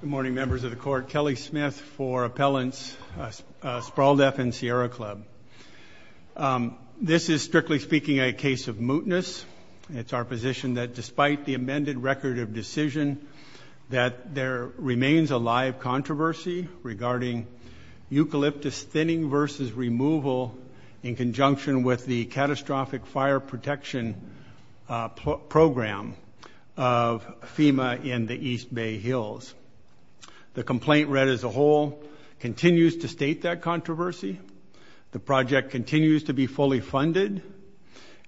Good morning, members of the court. Kelly Smith for Appellants SPRAWLDEF and Sierra Club. This is, strictly speaking, a case of mootness. It's our position that despite the amended record of decision that there remains a live controversy regarding eucalyptus thinning versus removal in conjunction with the catastrophic fire protection program of the East Bay Hills. The complaint read as a whole continues to state that controversy. The project continues to be fully funded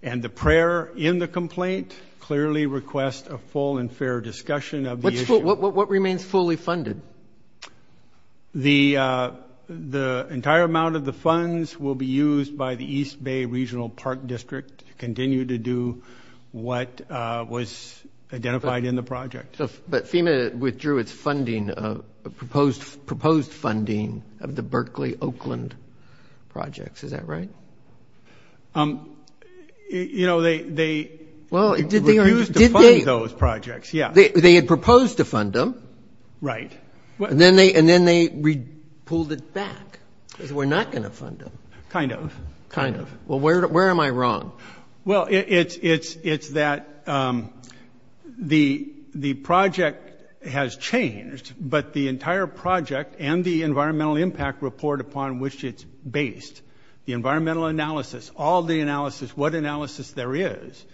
and the prayer in the complaint clearly requests a full and fair discussion of the issue. What remains fully funded? The entire amount of the funds will be used by the East Bay Regional Park District to continue to do what was identified in the project. But FEMA withdrew its funding of proposed funding of the Berkeley-Oakland projects, is that right? You know, they refused to fund those projects, yes. They had proposed to fund them. Right. And then they pulled it back, because we're not going to fund them. Kind of. Kind of. Well, where am I wrong? Well, it's that the project has changed, but the entire project and the environmental impact report upon which it's based, the environmental analysis, all the analysis, what analysis there is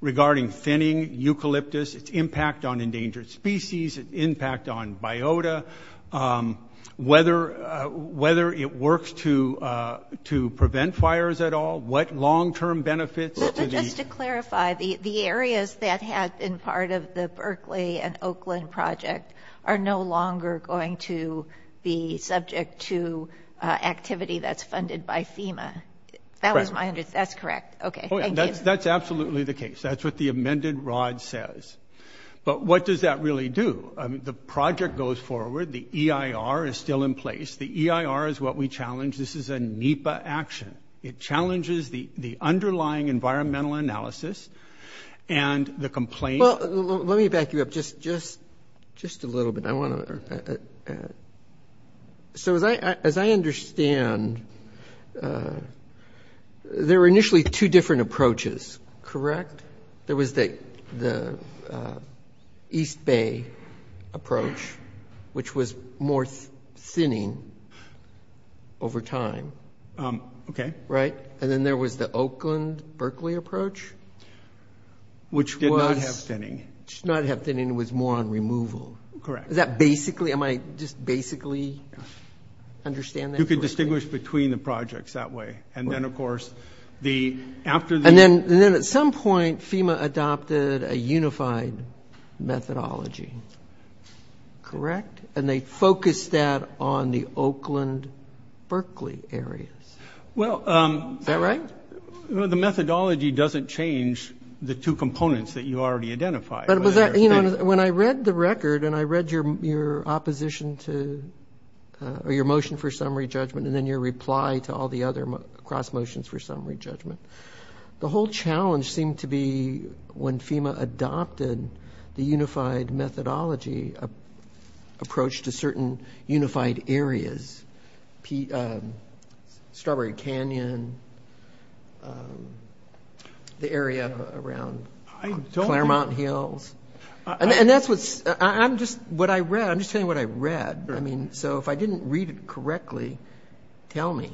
regarding thinning, eucalyptus, its impact on endangered species, its impact on biota, whether it works to prevent fires at all, what long-term benefits. Just to clarify, the areas that had been part of the Berkeley and Oakland project are no longer going to be subject to activity that's funded by FEMA. That's correct. Okay. That's absolutely the case. That's what the amended ROD says. But what does that really do? I mean, the project goes forward, the EIR is still in place, the Berkeley challenge. This is a NEPA action. It challenges the underlying environmental analysis and the complaint. Well, let me back you up just a little bit. I want to – so as I understand, there were initially two different approaches, correct? There was the East Bay approach, which was more thinning over time. Okay. Right? And then there was the Oakland-Berkeley approach, which was – Did not have thinning. Did not have thinning. It was more on removal. Correct. Is that basically – am I – just basically understand that correctly? You can distinguish between the projects that way. And then, of course, the – after the – Correct. And they focused that on the Oakland-Berkeley areas. Well – Is that right? The methodology doesn't change the two components that you already identified. But was that – you know, when I read the record and I read your opposition to – or your motion for summary judgment, and then your reply to all the other cross motions for summary judgment, the whole challenge seemed to be when FEMA adopted the unified methodology approach to certain unified areas – Strawberry Canyon, the area around Claremont Hills. I don't think – And that's what's – I'm just – what I read – I'm just saying what I read. I mean, so if I didn't read it correctly, tell me.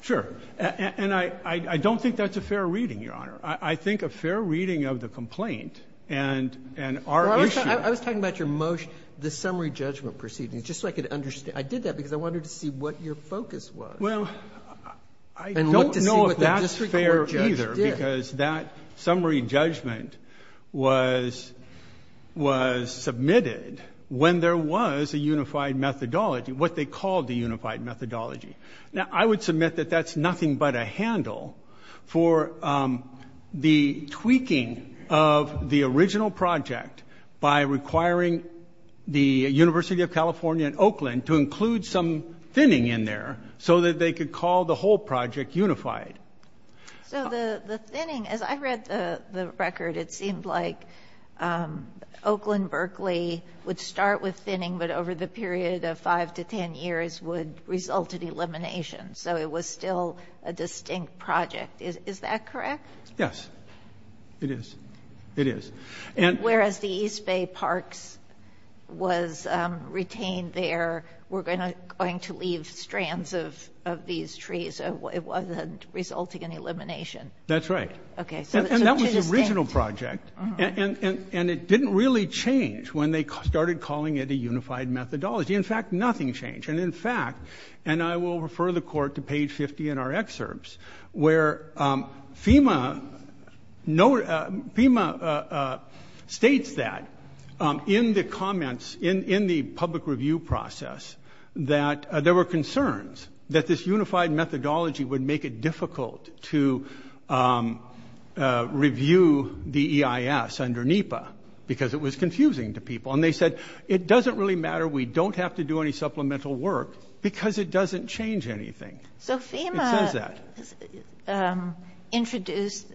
Sure. And I don't think that's a fair reading, Your Honor. I think a fair reading of the complaint and our issue – I was talking about your motion, the summary judgment proceedings, just so I could understand. I did that because I wanted to see what your focus was. Well, I don't know if that's fair either because that summary judgment was submitted when there was a unified methodology, what they called the unified methodology. Now, I would submit that that's nothing but a handle for the tweaking of the original project by requiring the University of California in Oakland to include some thinning in there so that they could call the whole project unified. So the thinning – as I read the record, it seemed like Oakland-Berkeley would start with thinning, but over the period of 5 to 10 years would result in elimination. So it was still a distinct project. Is that correct? Yes. It is. It is. And – Whereas the East Bay Parks was retained there – were going to leave strands of these trees, so it wasn't resulting in elimination. That's right. Okay. So it's a distinct – And that was the original project. And it didn't really change when they started calling it a unified methodology. In fact, nothing changed. And in fact – and I will refer the Court to page 50 in our excerpts – where FEMA – FEMA states that in the comments – in the public review process that there were concerns that this unified methodology would make it difficult to review the EIS under NEPA because it was confusing to people. And they said, it doesn't really matter. We don't have to do any supplemental work because it doesn't change anything. It says that. So FEMA introduced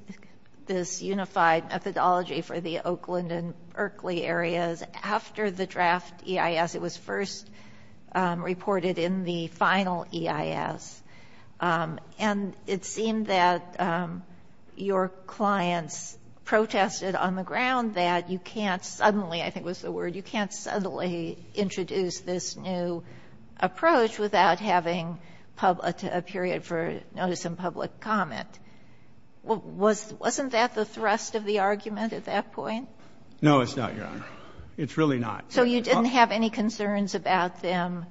this unified methodology for the Oakland and Berkeley areas after the draft EIS. It was first reported in the final EIS. And it seemed that your clients protested on the ground that you can't suddenly – I think it was the word – you can't suddenly introduce this new approach without having a period for notice and public comment. Wasn't that the thrust of the argument at that point? No, it's not, Your Honor. It's really not. So you didn't have any concerns about them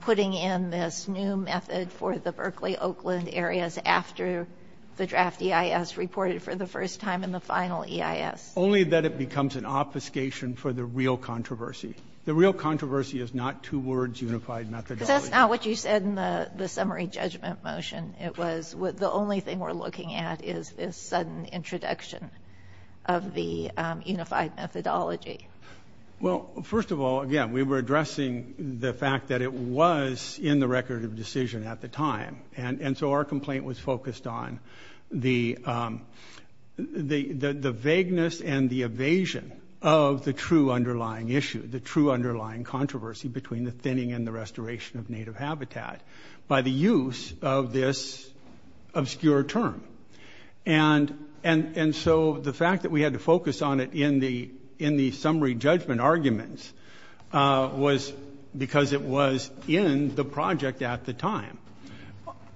putting in this new method for the Berkeley-Oakland areas after the draft EIS reported for the first time in the final EIS? Only that it becomes an obfuscation for the real controversy. The real controversy is not towards unified methodology. Because that's not what you said in the summary judgment motion. It was – the only thing we're looking at is this sudden introduction of the unified methodology. Well, first of all, again, we were addressing the fact that it was in the record of decision at the time. And so our complaint was focused on the vagueness and the evasion of the true underlying issue – the true underlying controversy between the thinning and the restoration of native habitat by the use of this obscure term. And so the fact that we had to focus on it in the summary judgment arguments was because it was in the project at the time.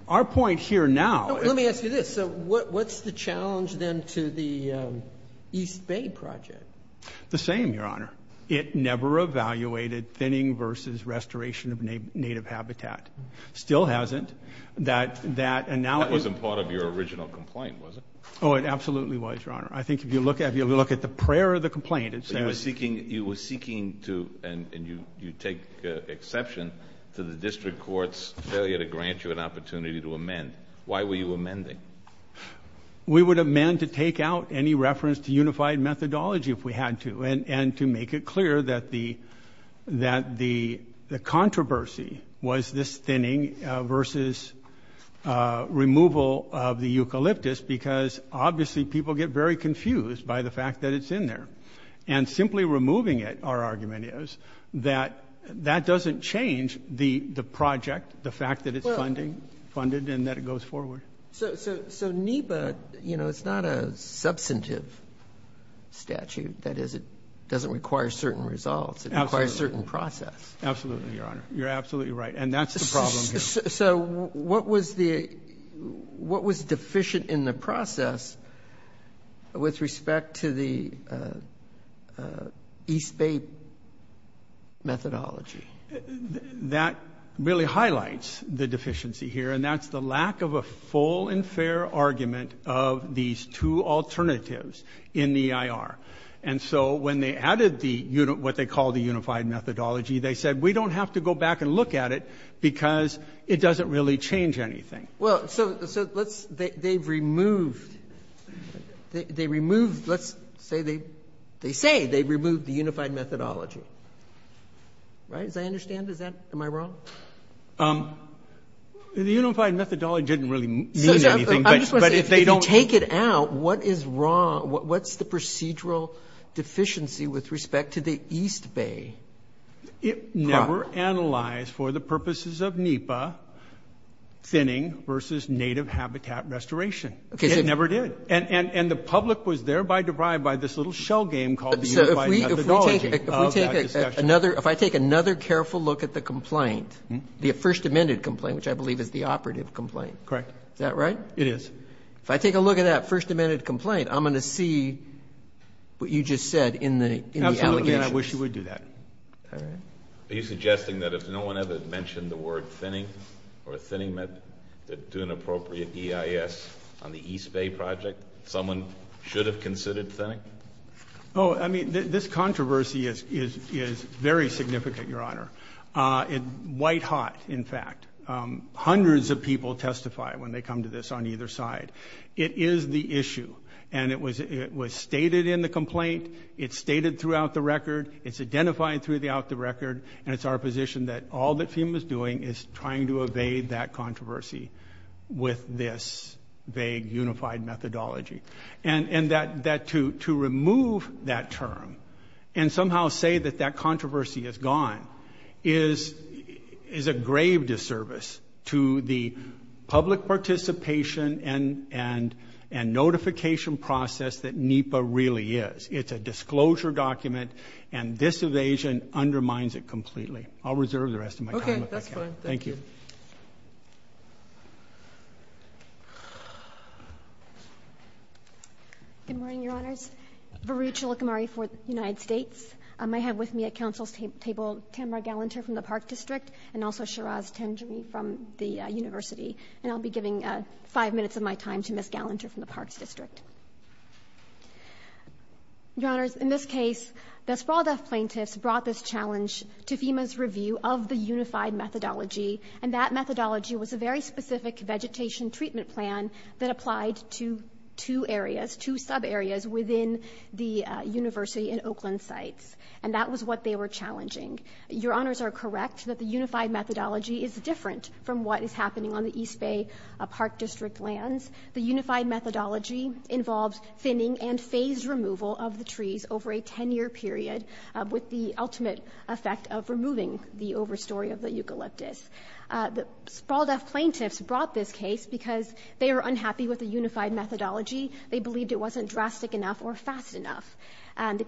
Our point here now – Let me ask you this. So what's the challenge, then, to the East Bay project? The same, Your Honor. It never evaluated thinning versus restoration of native habitat. Still hasn't. That analogy – Oh, it absolutely was, Your Honor. I think if you look at the prayer of the complaint, it says – You were seeking to – and you take exception to the district court's failure to grant you an opportunity to amend. Why were you amending? We would amend to take out any reference to unified methodology if we had to. And to make it clear that the controversy was this thinning versus removal of the eucalyptus, because obviously people get very confused by the fact that it's in there. And simply removing it, our argument is, that that doesn't change the project, the fact that it's funded and that it goes forward. So NEPA, you know, it's not a substantive statute. That is, it doesn't require certain results. It requires a certain process. Absolutely, Your Honor. You're absolutely right. And that's the problem here. So what was the – what was deficient in the process with respect to the East Bay methodology? That really highlights the deficiency here, and that's the lack of a full and fair argument of these two alternatives in the EIR. And so when they added the – what they call the unified methodology, they said, we don't have to go back and look at it because it doesn't really change anything. Well, so let's – they've removed – they removed – let's say they – they say they removed the unified methodology. Right? As I understand, is that – am I wrong? The unified methodology didn't really mean anything, but if they don't – I'm just going to say, if you take it out, what is wrong? It never analyzed, for the purposes of NEPA, thinning versus native habitat restoration. It never did. And the public was thereby derived by this little shell game called the unified methodology of that discussion. If we take another – if I take another careful look at the complaint, the first amended complaint, which I believe is the operative complaint. Correct. Is that right? It is. If I take a look at that first amended complaint, I'm going to see what you just said in the allegations. Absolutely. And I wish you would do that. All right. Are you suggesting that if no one ever mentioned the word thinning or thinning meant to do an appropriate EIS on the East Bay Project, someone should have considered thinning? Oh, I mean, this controversy is very significant, Your Honor. White hot, in fact. Hundreds of people testify when they come to this on either side. It is the issue. And it was stated in the complaint. It's stated throughout the record. It's identified throughout the record. And it's our position that all that FEMA's doing is trying to evade that controversy with this vague unified methodology. And that – to remove that term and somehow say that that controversy is gone is a grave disservice to the public participation and notification process that NEPA really is. It's a disclosure document. And this evasion undermines it completely. I'll reserve the rest of my time if I can. Okay. That's fine. Thank you. Good morning, Your Honors. Varooj Cholukamari for the United States. I have with me at counsel's table Tamara Gallanter from the Park District and also Shiraz Tanjimi from the University. And I'll be giving five minutes of my time to Ms. Gallanter from the Parks District. Your Honors, in this case, the sprawl death plaintiffs brought this challenge to FEMA's review of the unified methodology. And that methodology was a very specific vegetation treatment plan that applied to two areas, two sub-areas within the University in Oakland sites. And that was what they were challenging. Your Honors are correct that the unified methodology is different from what is happening on the East Bay Park District lands. The unified methodology involves thinning and phased removal of the trees over a 10-year period with the ultimate effect of removing the overstory of the eucalyptus. The sprawl death plaintiffs brought this case because they were unhappy with the unified methodology. They believed it wasn't drastic enough or fast enough. And they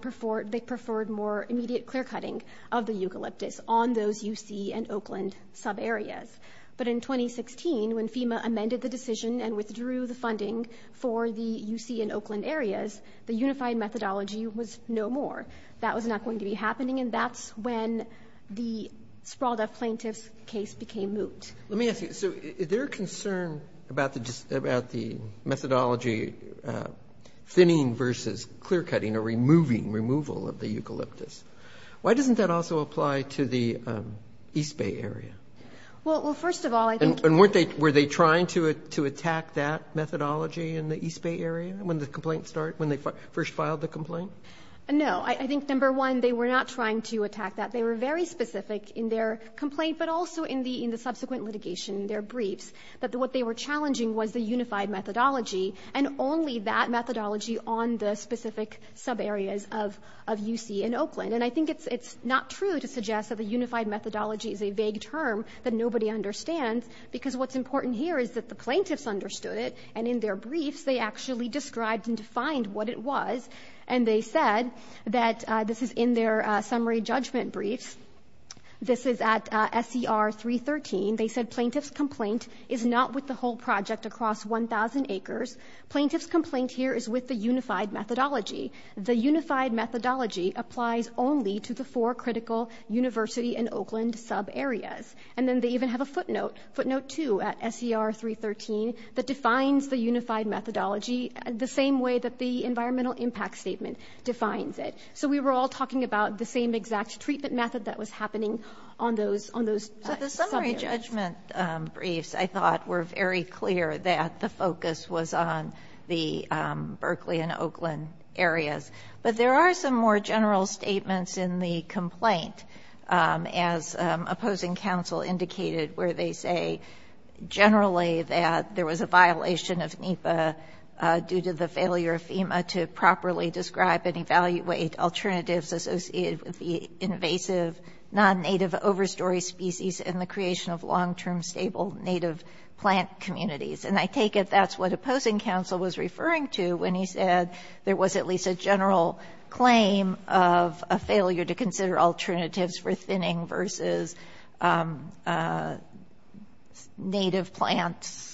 preferred more immediate clear-cutting of the eucalyptus on those UC and Oakland sub-areas. But in 2016, when FEMA amended the decision and withdrew the funding for the UC and Oakland areas, the unified methodology was no more. That was not going to be happening. And that's when the sprawl death plaintiffs case became moot. Let me ask you. So their concern about the methodology thinning versus clear-cutting or removing, removal of the eucalyptus, why doesn't that also apply to the East Bay area? Well, first of all, I think... And were they trying to attack that methodology in the East Bay area when the complaint started, when they first filed the complaint? No. I think, number one, they were not trying to attack that. They were very specific in their complaint, but also in the subsequent litigation, their briefs, that what they were challenging was the unified methodology and only that methodology on the specific sub-areas of UC and Oakland. And I think it's not true to suggest that the unified methodology is a vague term that nobody understands because what's important here is that the plaintiffs understood it and in their briefs they actually described and defined what it was and they said that this is in their summary judgment briefs. This is at SER 313. They said plaintiff's complaint is not with the whole project across 1,000 acres. Plaintiff's complaint here is with the unified methodology. The unified methodology applies only to the four critical university and Oakland sub-areas. And then they even have a footnote, footnote 2 at SER 313, that defines the unified methodology the same way that the environmental impact statement defines it. So we were all talking about the same exact treatment method that was happening on those sub-areas. So the summary judgment briefs, I thought, were very clear that the focus was on the Berkeley and Oakland areas. But there are some more general statements in the complaint as opposing counsel indicated where they say generally that there was a violation of NEPA due to the failure of FEMA to properly describe and evaluate alternatives associated with the invasive non-native overstory species and the creation of long-term stable native plant communities. And I take it that's what opposing counsel was referring to when he said there was at least a general claim of a failure to consider alternatives for thinning versus native plant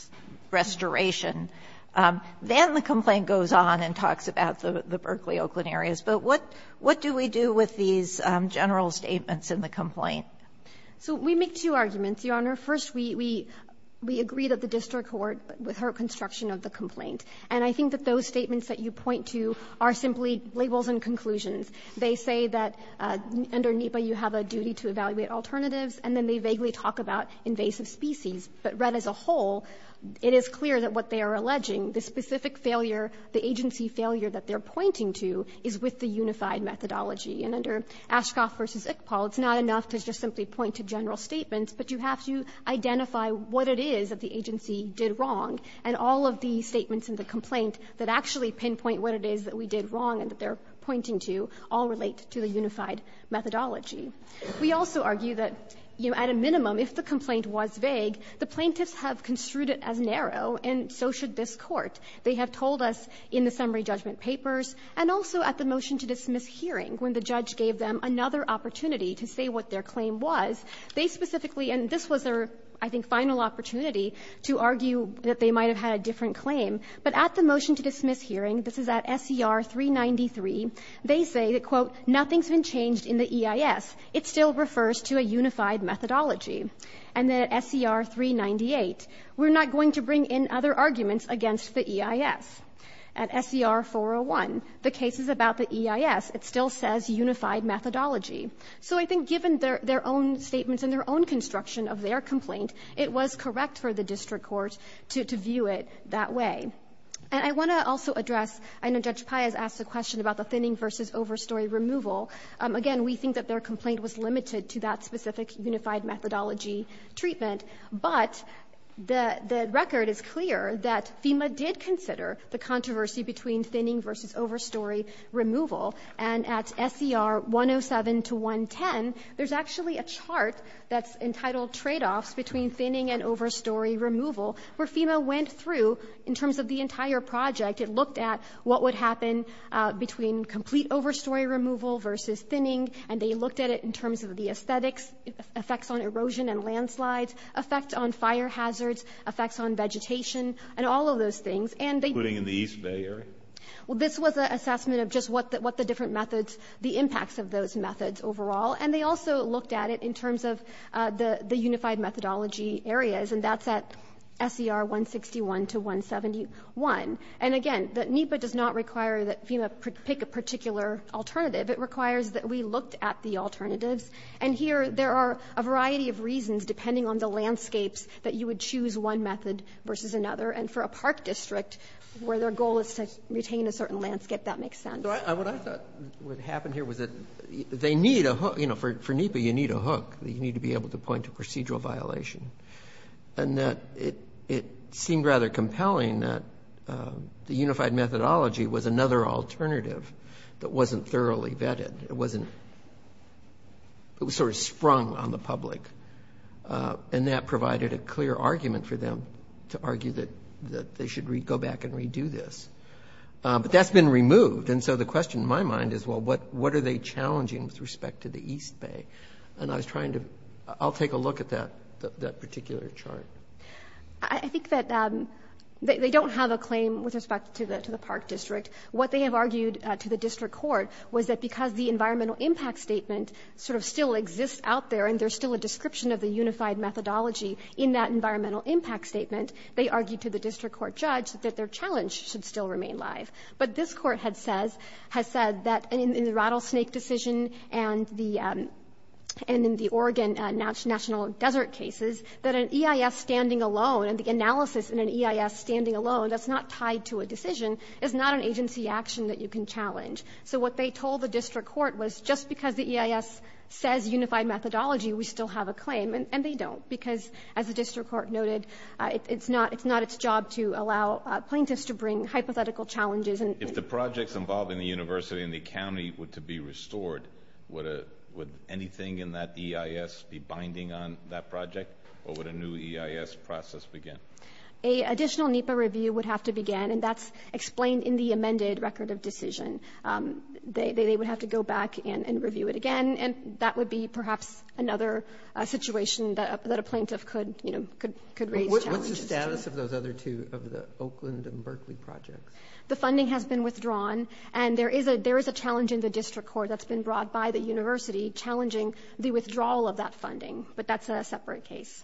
restoration. Then the complaint goes on and talks about the Berkeley-Oakland areas. But what do we do with these general statements in the complaint? So we make two arguments, Your Honor. First, we agree that the district court with her construction of the complaint. And I think that those statements that you point to are simply labels and conclusions. They say that under NEPA you have a duty to evaluate alternatives and then they vaguely talk about invasive species. But read as a whole, it is clear that what they are alleging, the specific failure, the agency failure that they're pointing to, is with the unified methodology. And under Ashcroft v. Iqbal, it's not enough to just simply point to general statements, but you have to identify what it is that the agency did wrong. And all of the statements in the complaint that actually pinpoint what it is that we did wrong and that they're pointing to all relate to the unified methodology. We also argue that, you know, at a minimum, if the complaint was vague, the plaintiffs have construed it as narrow and so should this Court. They have told us in the summary judgment papers and also at the motion to dismiss hearing when the judge gave them another opportunity to say what their claim was, they specifically, and this was their, I think, final opportunity, to argue that they might have had a different claim. But at the motion to dismiss hearing, this is at SCR 393, they say that, quote, nothing's been changed in the EIS. It still refers to a unified methodology. And then at SCR 398, we're not going to bring in other arguments against the EIS. At SCR 401, the cases about the EIS, it still says unified methodology. So I think given their own statements and their own construction of their complaint, it was correct for the district court to view it that way. And I want to also address, I know Judge Paez asked a question about the thinning versus overstory removal. Again, we think that their complaint was limited to that specific unified methodology treatment, but the record is clear that FEMA did consider the controversy between thinning versus overstory removal. And at SCR 107 to 110, there's actually a chart that's entitled tradeoffs between thinning and overstory removal, where FEMA went through, in terms of the entire project, it looked at what would happen between complete overstory removal versus thinning, and they looked at it in terms of the aesthetics, effects on erosion and landslides, effects on fire hazards, effects on vegetation, and all of those things. And they... Including in the East Bay area? Well, this was an assessment of just what the different methods, the impacts of those methods overall. And they also looked at it in terms of the unified methodology areas, and that's at SCR 161 to 171. And again, NEPA does not require that FEMA pick a particular alternative. It requires that we looked at the alternatives. And here, there are a variety of reasons, depending on the landscapes, that you would choose one method versus another. And for a park district, where their goal is to retain a certain landscape, that makes sense. So what I thought would happen here was that they need a hook. You know, for NEPA, you need a hook. You need to be able to point to procedural violation. And that it seemed rather compelling that the unified methodology was another alternative that wasn't thoroughly vetted. It wasn't... It was sort of sprung on the public, and that provided a clear argument for them to argue that they should go back and redo this. But that's been removed, and so the question in my mind is, well, what are they challenging with respect to the East Bay? And I was trying to... I'll take a look at that particular chart. I think that they don't have a claim with respect to the park district. What they have argued to the district court was that because the environmental impact statement sort of still exists out there, and there's still a description of the unified methodology in that environmental impact statement, they argued to the district court judge that their challenge should still remain live. But this court has said that in the Rattlesnake decision and in the Oregon National Desert cases, that an EIS standing alone, and the analysis in an EIS standing alone that's not tied to a decision, is not an agency action that you can challenge. So what they told the district court was just because the EIS says unified methodology, we still have a claim. And they don't, because as the district court noted, it's not its job to allow plaintiffs to bring hypothetical challenges. If the projects involving the university and the county were to be restored, would anything in that EIS be binding on that project? Or would a new EIS process begin? An additional NEPA review would have to begin, and that's explained in the amended record of decision. They would have to go back and review it again, and that would be perhaps another situation that a plaintiff could raise challenges to. What's the status of those other two, of the Oakland and Berkeley projects? The funding has been withdrawn, and there is a challenge in the district court that's been brought by the university challenging the withdrawal of that funding. But that's a separate case.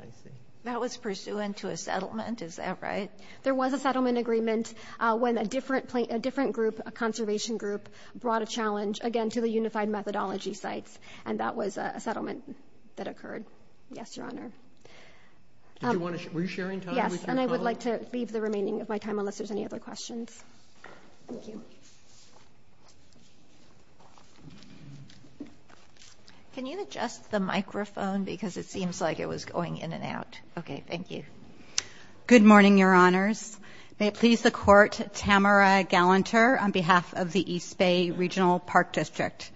I see. That was pursuant to a settlement, is that right? There was a settlement agreement when a different group, a conservation group, brought a challenge, again, to the unified methodology sites. And that was a settlement that occurred. Yes, Your Honor. Were you sharing time with your colleague? Yes, and I would like to leave the remaining of my time unless there's any other questions. Thank you. Can you adjust the microphone? Because it seems like it was going in and out. Okay, thank you. Good morning, Your Honors. May it please the Court, Tamara Gallanter, on behalf of the East Bay Regional Park District.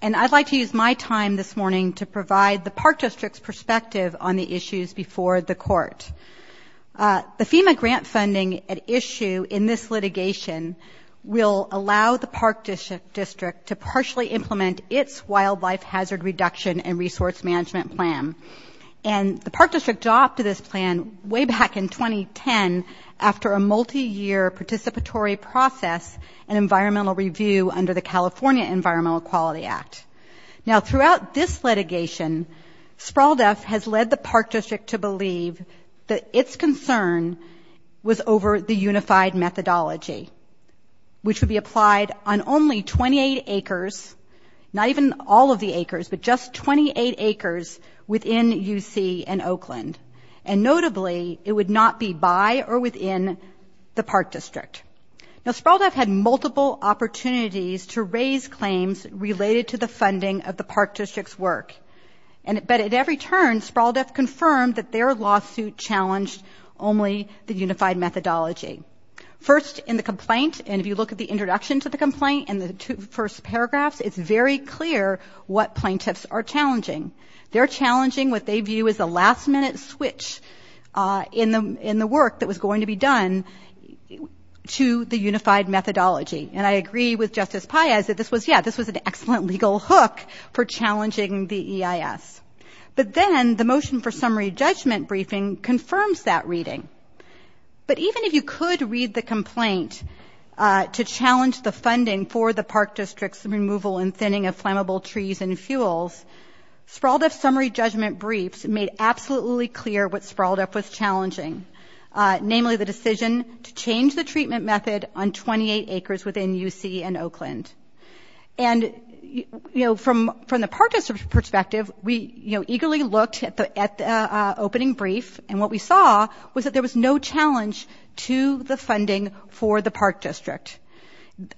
And I'd like to use my time this morning to provide the Park District's perspective on the issues before the Court. The FEMA grant funding at issue in this litigation will allow the Park District to partially implement its wildlife hazard reduction and resource management plan. And the Park District adopted this plan way back in 2010 after a multiyear participatory process and environmental review under the California Environmental Equality Act. Now, throughout this litigation, Spraldoff has led the Park District to believe that its concern was over the unified methodology, which would be applied on only 28 acres, not even all of the acres, but just 28 acres, within UC and Oakland. And notably, it would not be by or within the Park District. Now, Spraldoff had multiple opportunities to raise claims related to the funding of the Park District's work. But at every turn, Spraldoff confirmed that their lawsuit challenged only the unified methodology. First, in the complaint, and if you look at the introduction to the complaint and the first paragraphs, it's very clear what plaintiffs are challenging. They're challenging what they view as a last-minute switch in the work that was going to be done to the unified methodology. And I agree with Justice Paez that this was, yeah, this was an excellent legal hook for challenging the EIS. But then, the motion for summary judgment briefing confirms that reading. But even if you could read the complaint to challenge the funding for the Park District's removal and thinning of flammable trees and fuels, Spraldoff's summary judgment briefs made absolutely clear what Spraldoff was challenging, namely the decision to change the treatment method on 28 acres within UC and Oakland. And, you know, from the Park District's perspective, we, you know, eagerly looked at the opening brief, and what we saw was that there was no challenge to the funding for the Park District.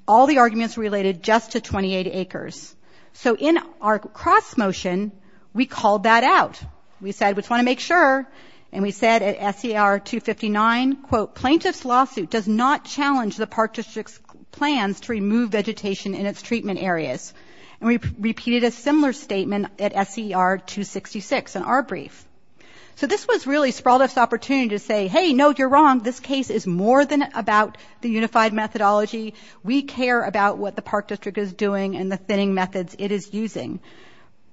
All the arguments related just to 28 acres. So in our cross-motion, we called that out. We said, we just want to make sure, and we said at SCR 259, quote, plaintiff's lawsuit does not challenge the Park District's plans to remove vegetation in its treatment areas. And we repeated a similar statement at SCR 266 in our brief. So this was really Spraldoff's opportunity to say, hey, no, you're wrong. This case is more than about the unified methodology. We care about what the Park District is doing and the thinning methods it is using.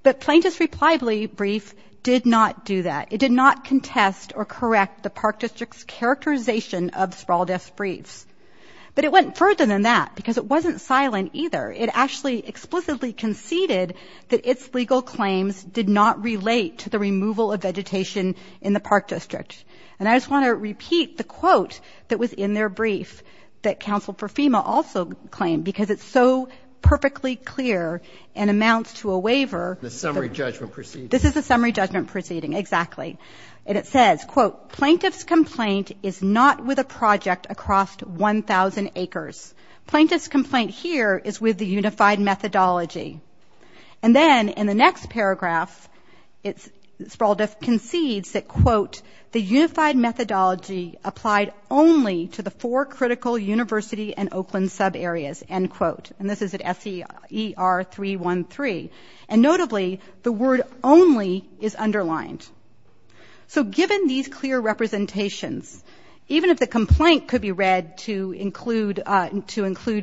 But plaintiff's reply brief did not do that. It did not contest or correct the Park District's characterization of Spraldoff's briefs. But it went further than that because it wasn't silent either. It actually explicitly conceded that its legal claims did not relate to the removal of vegetation in the Park District. And I just want to repeat the quote that was in their brief that Council for FEMA also claimed because it's so perfectly clear and amounts to a waiver. The summary judgment proceeding. Exactly. And it says, quote, plaintiff's complaint is not with a project across 1,000 acres. Plaintiff's complaint here is with the unified methodology. And then in the next paragraph, Spraldoff concedes that, quote, the unified methodology applied only to the four critical university and Oakland sub-areas, end quote. And this is at SCR 313. And notably, the word only is underlined. So given these clear representations, even if the complaint could be read to include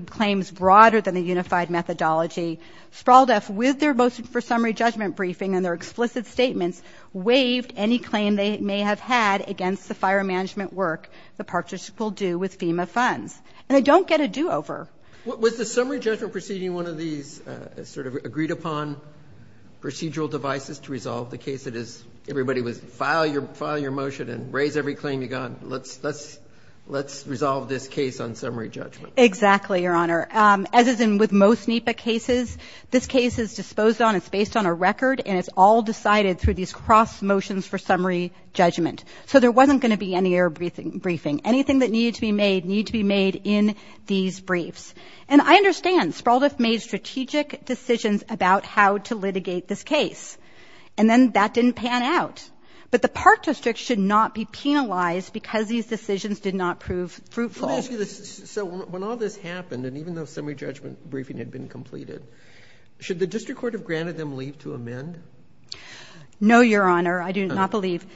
claims broader than the unified methodology, Spraldoff, with their motion for summary judgment briefing and their explicit statements, waived any claim they may have had against the fire management work the Park District will do with FEMA funds. And they don't get a do-over. Was the summary judgment proceeding one of these sort of agreed upon procedural devices to resolve the case that everybody was file your motion and raise every claim you got? Let's resolve this case on summary judgment. Exactly, Your Honor. As is with most NEPA cases, this case is disposed on. It's based on a record. And it's all decided through these cross motions for summary judgment. So there wasn't going to be any air briefing. Anything that needed to be made needed to be made in these briefs. And I understand. Spraldoff made strategic decisions about how to litigate this case. And then that didn't pan out. But the Park District should not be penalized because these decisions did not prove fruitful. Let me ask you this. So when all this happened, and even though summary judgment briefing had been completed, should the district court have granted them leave to amend? No, Your Honor. I do not believe.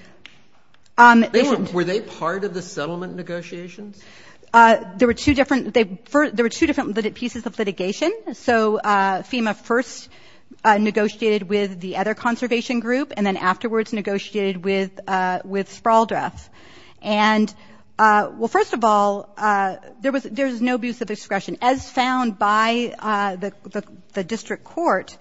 Were they part of the settlement negotiations? There were two different pieces of litigation. So FEMA first negotiated with the other conservation group and then afterwards negotiated with Spraldoff. And well, first of all, there was no abuse of discretion. As found by the district court,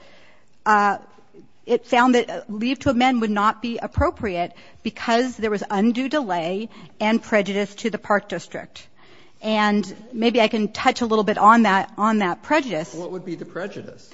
it found that leave to amend would not be appropriate because there was undue delay and prejudice to the Park District. And maybe I can touch a little bit on that prejudice. What would be the prejudice?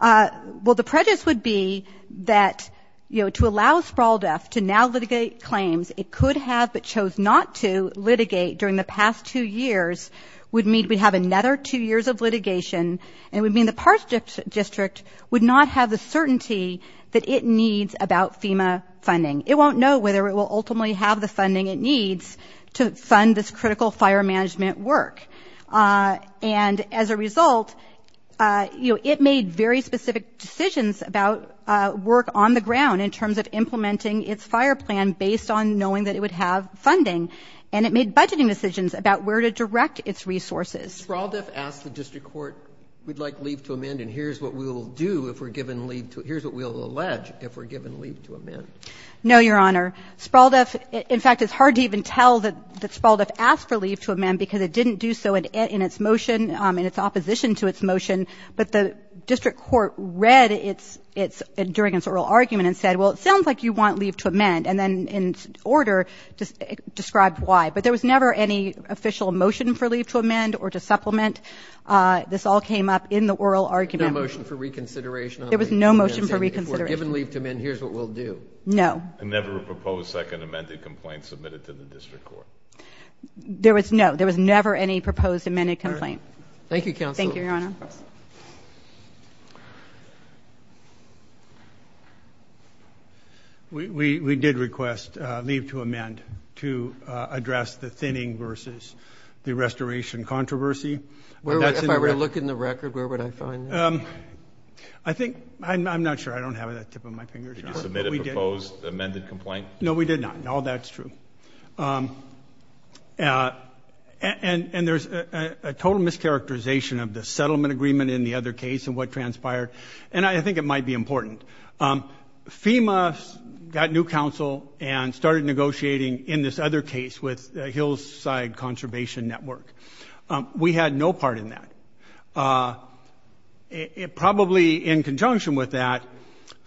Well, the prejudice would be that to allow Spraldoff to now litigate claims it could have but chose not to litigate during the past two years would mean we'd have another two years of litigation and it would mean the Park District would not have the certainty that it needs about FEMA funding. It won't know whether it will ultimately have the funding it needs to fund this critical fire management work. And as a result, you know, it made very specific decisions about work on the ground in terms of implementing its fire plan based on knowing that it would have funding. And it made budgeting decisions about where to direct its resources. Spraldoff asked the district court, we'd like leave to amend and here's what we'll do if we're given leave to – here's what we'll allege if we're given leave to amend. No, Your Honor. Spraldoff – in fact, it's hard to even tell that Spraldoff asked for leave to amend because it didn't do so in its motion, in its opposition to its motion. But the district court read its – during its oral argument and said, well, it sounds like you want leave to amend. And then in order described why. But there was never any official motion for leave to amend or to supplement. This all came up in the oral argument. No motion for reconsideration on leave to amend. There was no motion for reconsideration. If we're given leave to amend, here's what we'll do. No. And never a proposed second amended complaint submitted to the district court. There was no – there was never any proposed amended complaint. Thank you, Counsel. Thank you, Your Honor. We did request leave to amend to address the thinning versus the restoration controversy. If I were to look in the record, where would I find that? I think – I'm not sure. I don't have it at the tip of my fingers. Did you submit a proposed amended complaint? No, we did not. All that's true. And there's a total mischaracterization of the settlement agreement in the other case and what transpired. And I think it might be important. FEMA got new counsel and started negotiating in this other case with the Hillside Conservation Network. We had no part in that. Probably in conjunction with that,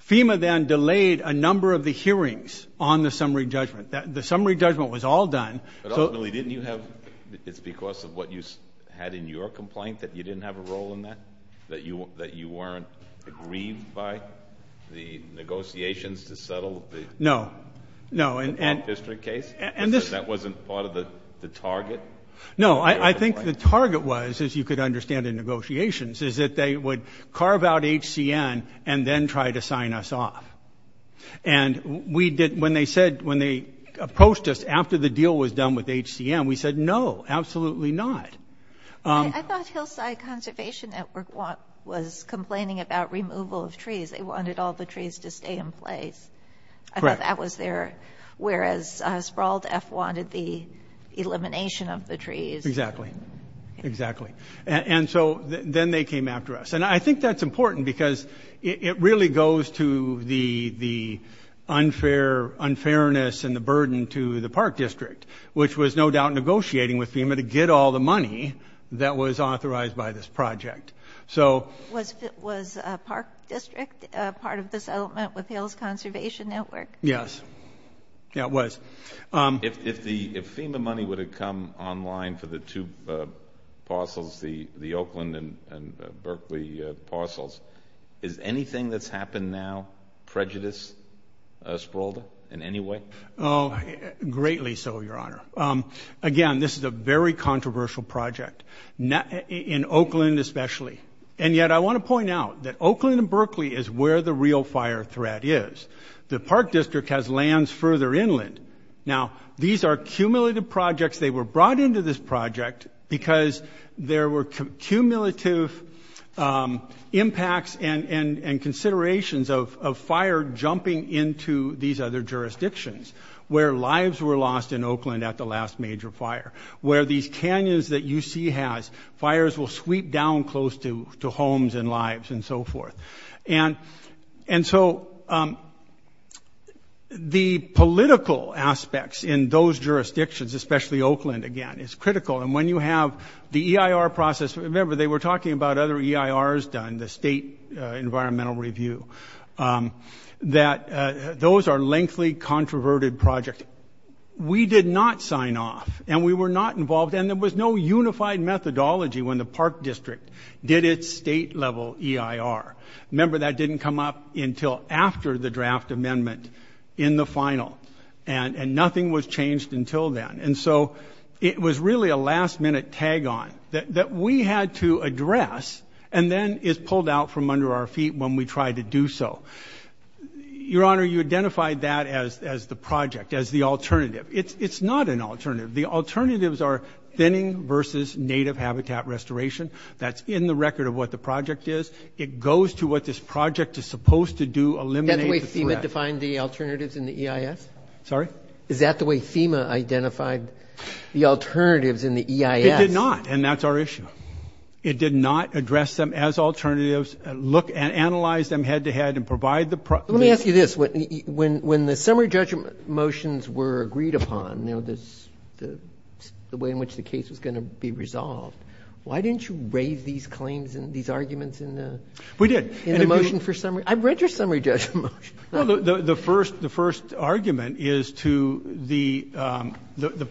FEMA then delayed a number of the hearings on the summary judgment. The summary judgment was all done. But ultimately, didn't you have – it's because of what you had in your complaint that you didn't have a role in that? That you weren't aggrieved by the negotiations to settle the district case? No, no. That wasn't part of the target? No. I think the target was, as you could understand in negotiations, is that they would carve out HCN and then try to sign us off. And we didn't – when they said – when they approached us after the deal was done with HCN, we said, no, absolutely not. I thought Hillside Conservation Network was complaining about removal of trees. They wanted all the trees to stay in place. Correct. I thought that was their – whereas Sprawled F wanted the elimination of the trees. Exactly. Exactly. And so then they came after us. And I think that's important because it really goes to the unfairness and the burden to the park district, which was no doubt negotiating with FEMA to get all the money that was authorized by this project. Was Park District part of the settlement with Hills Conservation Network? Yes. Yeah, it was. If FEMA money would have come online for the two parcels, the Oakland and Berkeley parcels, is anything that's happened now prejudice Sprawled in any way? Oh, greatly so, Your Honor. Again, this is a very controversial project. In Oakland especially. And yet I want to point out that Oakland and Berkeley is where the real fire threat is. The park district has lands further inland. Now, these are cumulative projects. They were brought into this project because there were cumulative impacts and considerations of fire jumping into these other jurisdictions where lives were lost in Oakland at the last major fire, where these canyons that you see has fires will sweep down close to homes and lives and so forth. And so the political aspects in those jurisdictions, especially Oakland, again, is critical. And when you have the EIR process, remember, they were talking about other EIRs done, the State Environmental Review, that those are lengthy, controverted projects. But we did not sign off and we were not involved. And there was no unified methodology when the park district did its state-level EIR. Remember, that didn't come up until after the draft amendment in the final. And nothing was changed until then. And so it was really a last-minute tag-on that we had to address and then is pulled out from under our feet when we tried to do so. Your Honor, you identified that as the project, as the alternative. It's not an alternative. The alternatives are thinning versus native habitat restoration. That's in the record of what the project is. It goes to what this project is supposed to do, eliminate the threat. Is that the way FEMA defined the alternatives in the EIS? Sorry? Is that the way FEMA identified the alternatives in the EIS? It did not, and that's our issue. It did not address them as alternatives, look and analyze them head-to-head and provide the – Let me ask you this. When the summary judgment motions were agreed upon, you know, the way in which the case was going to be resolved, why didn't you raise these claims and these arguments in the motion for summary? I've read your summary judgment motion. Well, the first argument is to the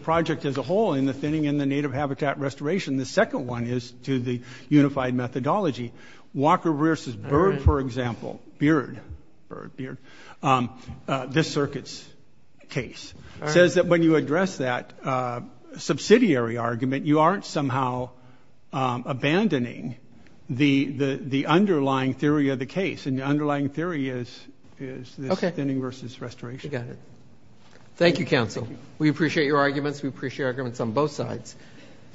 project as a whole in the thinning and the native habitat restoration. The second one is to the unified methodology. Walker v. Byrd, for example, Byrd, Byrd, Byrd, this circuit's case, says that when you address that subsidiary argument, you aren't somehow abandoning the underlying theory of the case, and the underlying theory is this thinning versus restoration. Got it. Thank you, counsel. We appreciate your arguments. We appreciate arguments on both sides.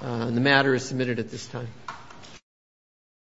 The matter is submitted at this time.